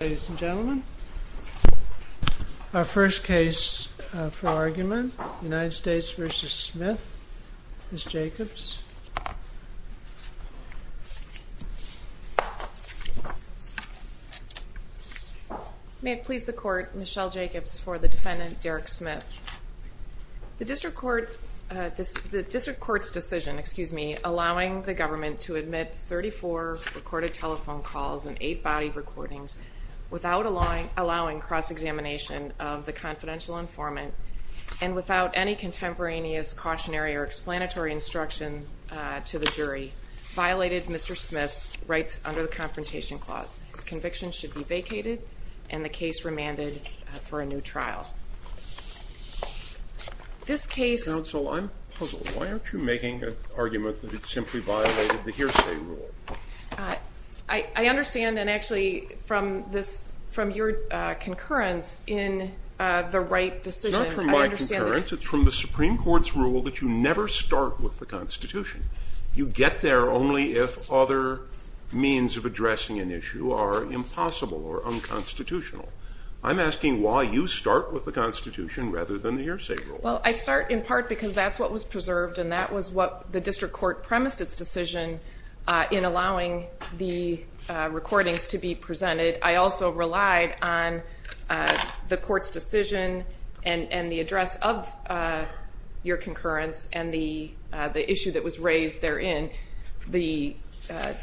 Ladies and gentlemen, our first case for argument, United States v. Smith, Ms. Jacobs. May it please the court, Michelle Jacobs for the defendant Derrick Smith. The district court's decision allowing the government to admit 34 recorded telephone calls and eight body recordings without allowing cross-examination of the confidential informant and without any contemporaneous cautionary or explanatory instruction to the jury violated Mr. Smith's rights under the Confrontation Clause. His conviction should be vacated and the case remanded for a new trial. This case – Counsel, I'm puzzled. Why aren't you making an argument that it simply violated the hearsay rule? I understand and actually from your concurrence in the right decision – It's not from my concurrence. It's from the Supreme Court's rule that you never start with the Constitution. You get there only if other means of addressing an issue are impossible or unconstitutional. I'm asking why you start with the Constitution rather than the hearsay rule. Well, I start in part because that's what was preserved and that was what the district court premised its decision in allowing the recordings to be presented. I also relied on the court's decision and the address of your concurrence and the issue that was raised therein. The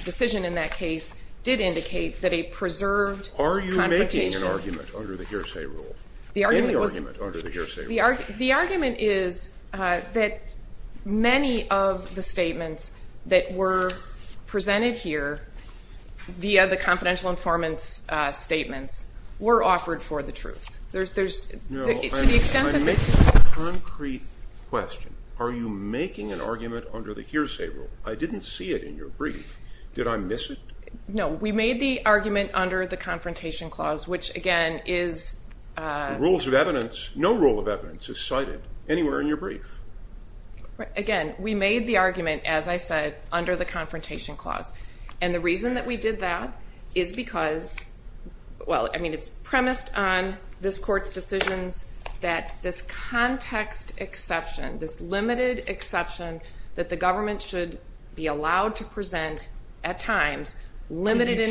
decision in that case did indicate that a preserved confrontation – Are you making an argument under the hearsay rule? Any argument under the hearsay rule? The argument is that many of the statements that were presented here via the confidential informants' statements were offered for the truth. To the extent that – No, I'm making a concrete question. Are you making an argument under the hearsay rule? I didn't see it in your brief. Did I miss it? No, we made the argument under the confrontation clause, which again is – No rule of evidence is cited anywhere in your brief. Again, we made the argument, as I said, under the confrontation clause. And the reason that we did that is because – Well, I mean, it's premised on this court's decisions that this context exception, this limited exception that the government should be allowed to present at times, limited information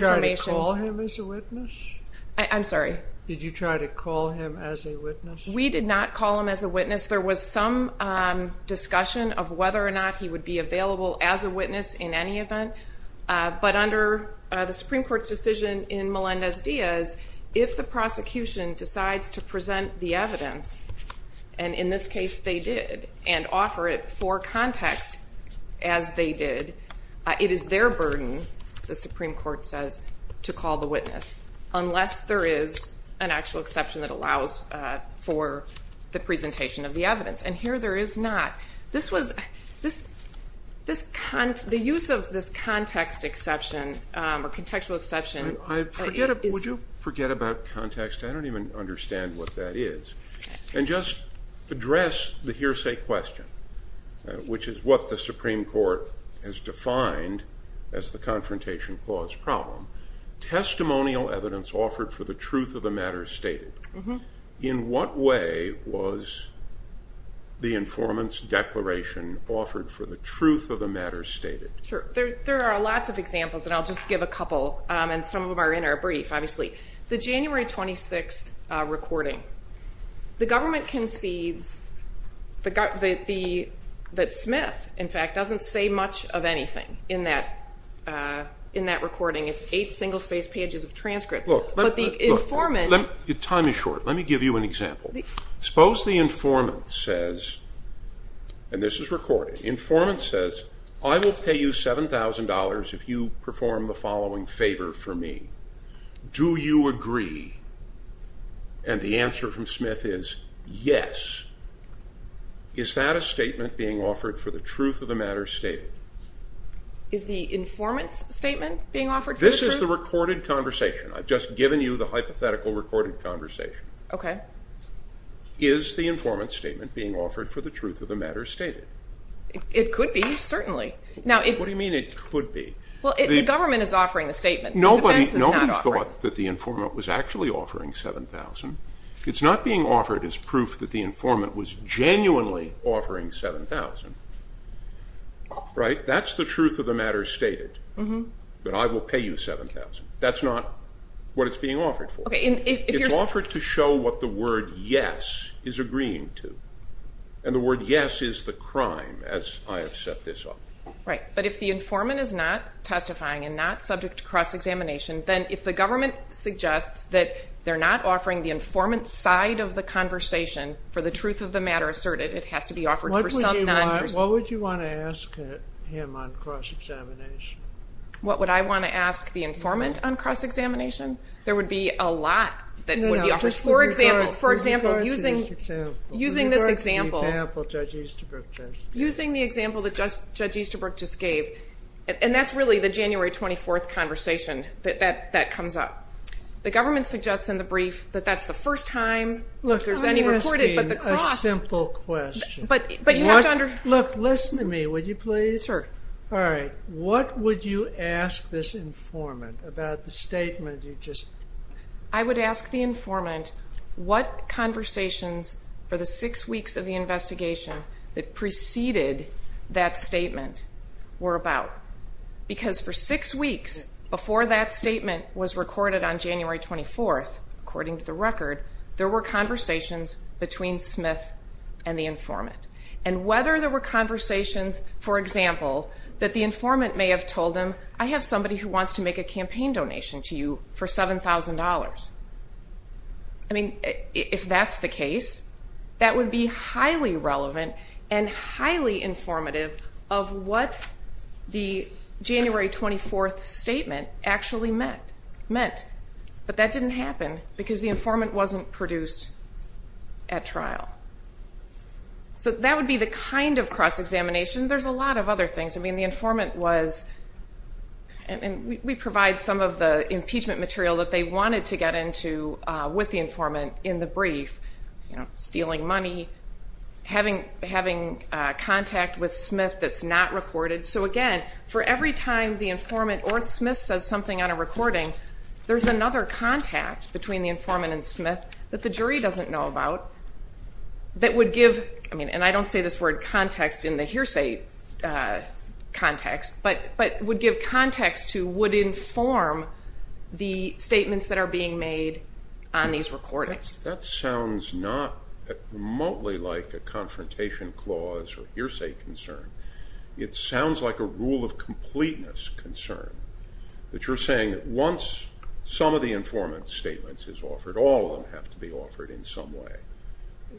– Did you try to call him as a witness? I'm sorry? Did you try to call him as a witness? We did not call him as a witness. There was some discussion of whether or not he would be available as a witness in any event. But under the Supreme Court's decision in Melendez-Diaz, if the prosecution decides to present the evidence, and in this case they did, and offer it for context, as they did, it is their burden, the Supreme Court says, to call the witness unless there is an actual exception that allows for the presentation of the evidence. And here there is not. The use of this context exception or contextual exception – Would you forget about context? I don't even understand what that is. And just address the hearsay question, which is what the Supreme Court has defined as the confrontation clause problem. Testimonial evidence offered for the truth of the matter stated. In what way was the informant's declaration offered for the truth of the matter stated? There are lots of examples, and I'll just give a couple, and some of them are in our brief, obviously. The January 26th recording. The government concedes that Smith, in fact, doesn't say much of anything in that recording. It's eight single-spaced pages of transcript. Time is short. Let me give you an example. Suppose the informant says, and this is recorded, the informant says, I will pay you $7,000 if you perform the following favor for me. Do you agree? And the answer from Smith is yes. Is that a statement being offered for the truth of the matter stated? Is the informant's statement being offered for the truth? This is the recorded conversation. I've just given you the hypothetical recorded conversation. Okay. Is the informant's statement being offered for the truth of the matter stated? It could be, certainly. What do you mean it could be? The government is offering the statement. Nobody thought that the informant was actually offering $7,000. It's not being offered as proof that the informant was genuinely offering $7,000. Right? That's the truth of the matter stated, that I will pay you $7,000. That's not what it's being offered for. It's offered to show what the word yes is agreeing to, and the word yes is the crime, as I have set this up. Right. But if the informant is not testifying and not subject to cross-examination, then if the government suggests that they're not offering the informant's side of the conversation for the truth of the matter asserted, it has to be offered for some non-person. What would you want to ask him on cross-examination? What would I want to ask the informant on cross-examination? There would be a lot that would be offered. For example, using this example. Regarding the example Judge Easterbrook just gave. Using the example that Judge Easterbrook just gave. And that's really the January 24th conversation that comes up. The government suggests in the brief that that's the first time there's any reported, but the cross. I'm asking a simple question. But you have to understand. Look, listen to me, would you please? Sure. All right. What would you ask this informant about the statement you just. I would ask the informant what conversations for the six weeks of the investigation that preceded that statement were about. Because for six weeks before that statement was recorded on January 24th, according to the record, there were conversations between Smith and the informant. And whether there were conversations, for example, that the informant may have told him, I have somebody who wants to make a campaign donation to you for $7,000. I mean, if that's the case, that would be highly relevant and highly informative of what the January 24th statement actually meant. But that didn't happen because the informant wasn't produced at trial. So that would be the kind of cross-examination. There's a lot of other things. I mean, the informant was. And we provide some of the impeachment material that they wanted to get into with the informant in the brief, stealing money, having contact with Smith that's not recorded. So, again, for every time the informant or Smith says something on a recording, there's another contact between the informant and Smith that the jury doesn't know about that would give, I mean, and I don't say this word context in the hearsay context, but would give context to, would inform the statements that are being made on these recordings. That sounds not remotely like a confrontation clause or hearsay concern. It sounds like a rule of completeness concern, that you're saying that once some of the informant's statements is offered, all of them have to be offered in some way.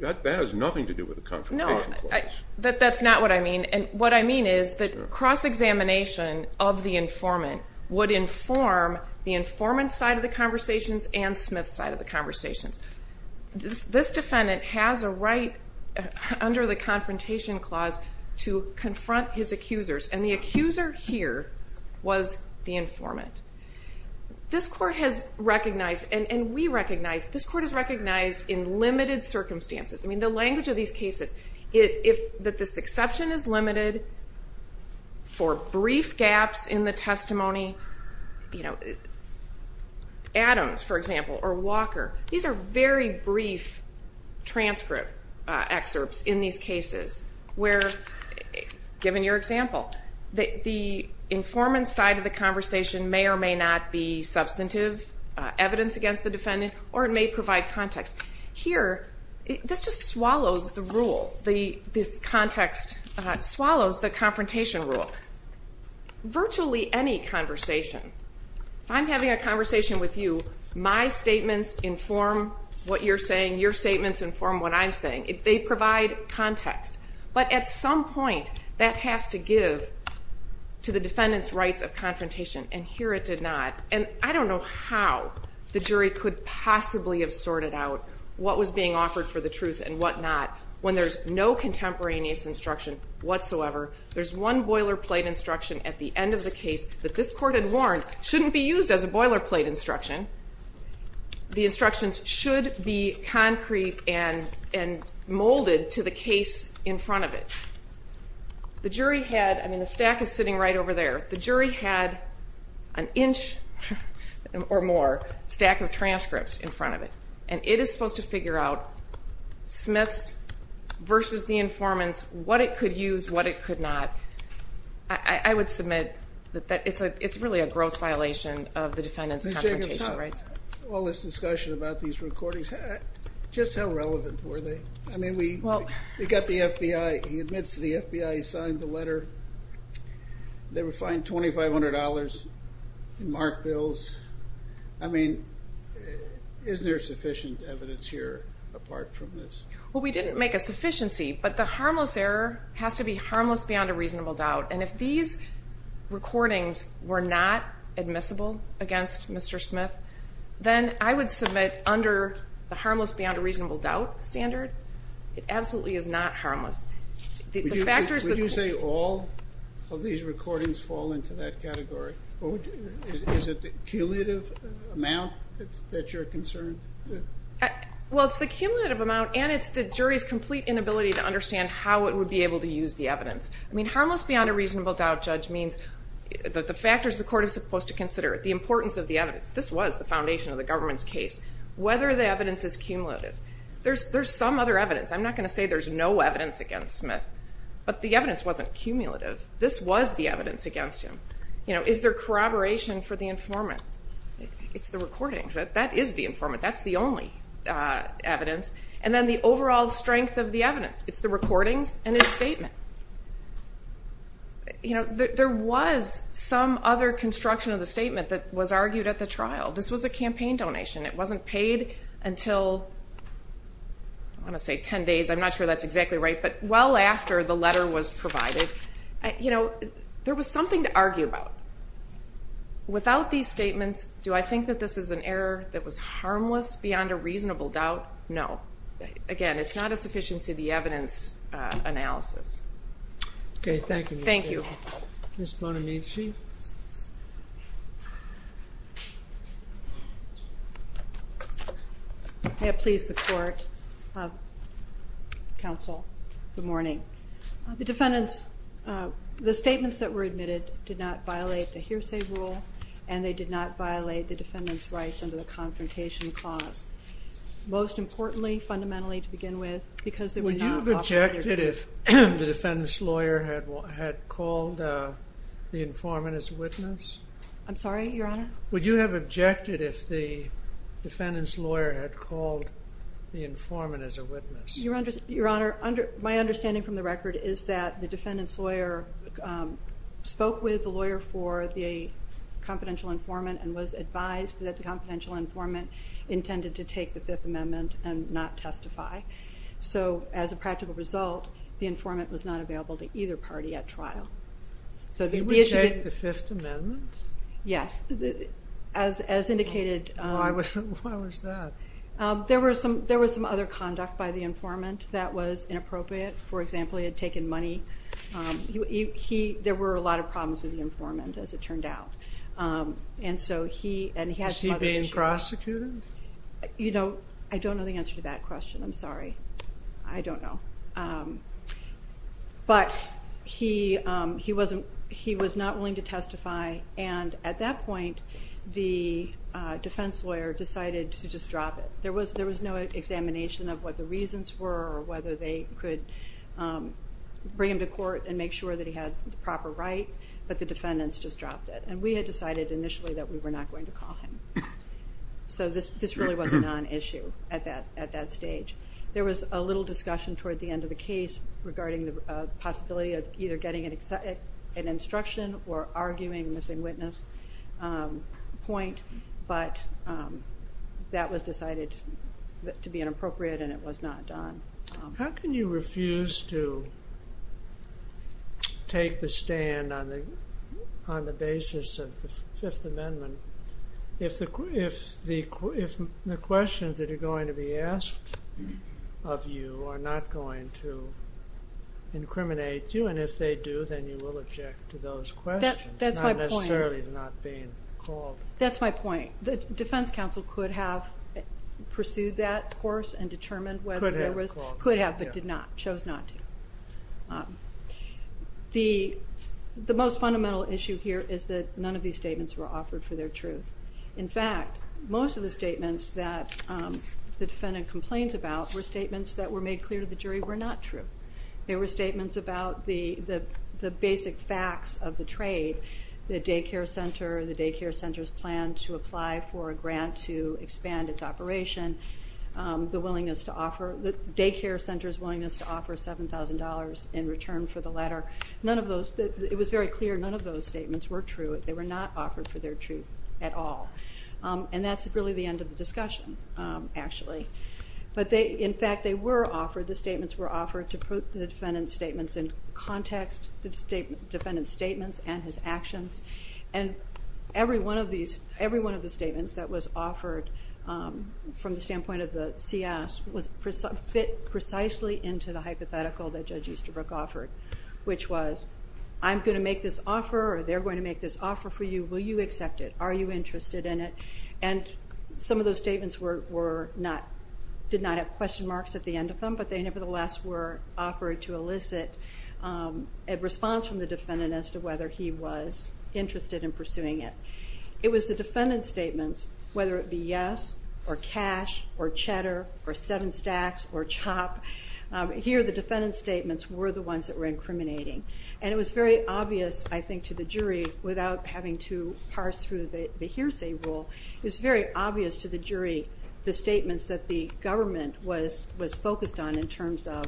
That has nothing to do with the confrontation clause. No, that's not what I mean. And what I mean is that cross-examination of the informant would inform the informant's side of the conversations and Smith's side of the conversations. This defendant has a right under the confrontation clause to confront his accusers, and the accuser here was the informant. This court has recognized, and we recognize, this court has recognized in limited circumstances, I mean, the language of these cases, that this exception is limited for brief gaps in the testimony. Adams, for example, or Walker, these are very brief transcript excerpts in these cases where, given your example, the informant's side of the conversation may or may not be substantive, evidence against the defendant, or it may provide context. Here, this just swallows the rule. This context swallows the confrontation rule. Virtually any conversation. If I'm having a conversation with you, my statements inform what you're saying, your statements inform what I'm saying. They provide context. But at some point, that has to give to the defendant's rights of confrontation, and here it did not. And I don't know how the jury could possibly have sorted out what was being offered for the truth and what not when there's no contemporaneous instruction whatsoever. There's one boilerplate instruction at the end of the case that this court had warned shouldn't be used as a boilerplate instruction. The instructions should be concrete and molded to the case in front of it. The jury had, I mean, the stack is sitting right over there, the jury had an inch or more stack of transcripts in front of it, and it is supposed to figure out Smith's versus the informant's, what it could use, what it could not. I would submit that it's really a gross violation of the defendant's confrontation rights. All this discussion about these recordings, just how relevant were they? I mean, we got the FBI, he admits to the FBI, he signed the letter, they were fined $2,500 in marked bills. I mean, is there sufficient evidence here apart from this? Well, we didn't make a sufficiency, but the harmless error has to be harmless beyond a reasonable doubt, and if these recordings were not admissible against Mr. Smith, then I would submit under the harmless beyond a reasonable doubt standard, it absolutely is not harmless. Would you say all of these recordings fall into that category? Is it the cumulative amount that you're concerned? Well, it's the cumulative amount, and it's the jury's complete inability to understand how it would be able to use the evidence. I mean, harmless beyond a reasonable doubt, Judge, means that the factors the court is supposed to consider, the importance of the evidence, this was the foundation of the government's case, whether the evidence is cumulative. There's some other evidence. I'm not going to say there's no evidence against Smith, but the evidence wasn't cumulative. This was the evidence against him. You know, is there corroboration for the informant? It's the recordings. That is the informant. That's the only evidence. And then the overall strength of the evidence. It's the recordings and his statement. You know, there was some other construction of the statement that was argued at the trial. This was a campaign donation. It wasn't paid until, I want to say 10 days. I'm not sure that's exactly right, but well after the letter was provided. You know, there was something to argue about. Without these statements, do I think that this is an error that was harmless beyond a reasonable doubt? No. Again, it's not a sufficiency of the evidence analysis. Okay, thank you, Ms. Boden. Thank you. Ms. Bonamici? May it please the court. Counsel, good morning. The defendant's, the statements that were admitted did not violate the hearsay rule and they did not violate the defendant's rights under the confrontation clause. Most importantly, fundamentally to begin with, because they were not authoritative. Would you have objected if the defendant's lawyer had called the informant as a witness? I'm sorry, Your Honor? Would you have objected if the defendant's lawyer had called the informant as a witness? Your Honor, my understanding from the record is that the defendant's lawyer spoke with the lawyer for the confidential informant and was advised that the confidential informant intended to take the Fifth Amendment and not testify. So as a practical result, the informant was not available to either party at trial. He would take the Fifth Amendment? Yes. As indicated... Why was that? There was some other conduct by the informant that was inappropriate. For example, he had taken money. There were a lot of problems with the informant, as it turned out. And so he... Was he being prosecuted? You know, I don't know the answer to that question. I'm sorry. I don't know. But he was not willing to testify, and at that point, the defense lawyer decided to just drop it. There was no examination of what the reasons were or whether they could bring him to court and make sure that he had the proper right, but the defendants just dropped it. And we had decided initially that we were not going to call him. So this really was a non-issue at that stage. There was a little discussion toward the end of the case regarding the possibility of either getting an instruction or arguing a missing witness point, but that was decided to be inappropriate and it was not done. How can you refuse to take the stand on the basis of the Fifth Amendment if the questions that are going to be asked of you are not going to incriminate you? And if they do, then you will object to those questions. That's my point. Not necessarily not being called. That's my point. The defense counsel could have pursued that course and determined whether there was... Could have called him. Could have, but chose not to. The most fundamental issue here is that none of these statements were offered for their truth. In fact, most of the statements that the defendant complains about were statements that were made clear to the jury were not true. They were statements about the basic facts of the trade, the daycare center, the daycare center's plan to apply for a grant to expand its operation, the willingness to offer... the daycare center's willingness to offer $7,000 in return for the letter. It was very clear none of those statements were true. They were not offered for their truth at all. And that's really the end of the discussion, actually. But in fact, they were offered, the statements were offered to the defendant's statements in context, the defendant's statements and his actions. And every one of the statements that was offered from the standpoint of the CS fit precisely into the hypothetical that Judge Easterbrook offered, which was, I'm going to make this offer or they're going to make this offer for you, will you accept it? Are you interested in it? And some of those statements were not... did not have question marks at the end of them, but they nevertheless were offered to elicit a response from the defendant as to whether he was interested in pursuing it. It was the defendant's statements, whether it be yes, or cash, or cheddar, or seven stacks, or chop. Here, the defendant's statements were the ones that were incriminating. And it was very obvious, I think, to the jury, without having to parse through the hearsay rule, it was very obvious to the jury the statements that the government was focused on in terms of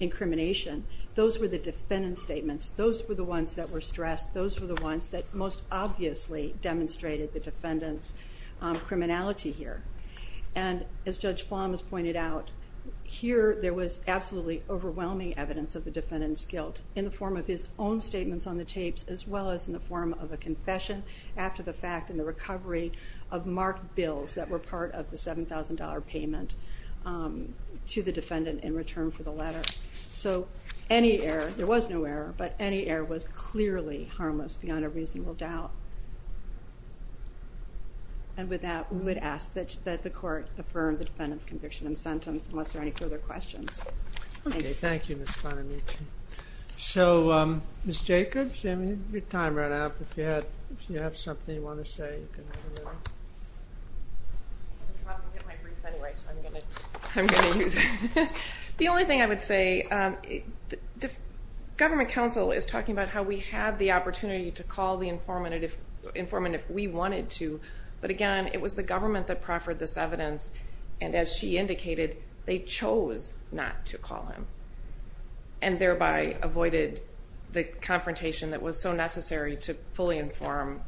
incrimination. Those were the defendant's statements. Those were the ones that were stressed. Those were the ones that most obviously demonstrated the defendant's criminality here. And as Judge Flom has pointed out, here there was absolutely overwhelming evidence of the defendant's guilt in the form of his own statements on the tapes as well as in the form of a confession after the fact in the recovery of marked bills that were part of the $7,000 payment to the defendant in return for the letter. So any error, there was no error, but any error was clearly harmless beyond a reasonable doubt. And with that, we would ask that the court affirm the defendant's conviction and sentence unless there are any further questions. Okay, thank you, Ms. Fonamici. So, Ms. Jacobs, your time ran out, but if you have something you want to say. The only thing I would say, government counsel is talking about how we had the opportunity to call the informant if we wanted to, but again, it was the government that proffered this evidence, and as she indicated, they chose not to call him and thereby avoided the confrontation that was so necessary to fully inform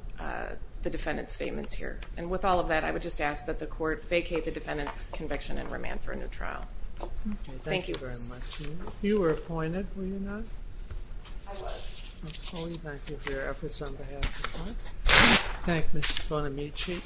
the defendant's statements here. And with all of that, I would just ask that the court vacate the defendant's conviction and remand for a new trial. Thank you very much. You were appointed, were you not? I was. Thank you for your efforts on behalf of the court. Thank you, Ms. Fonamici.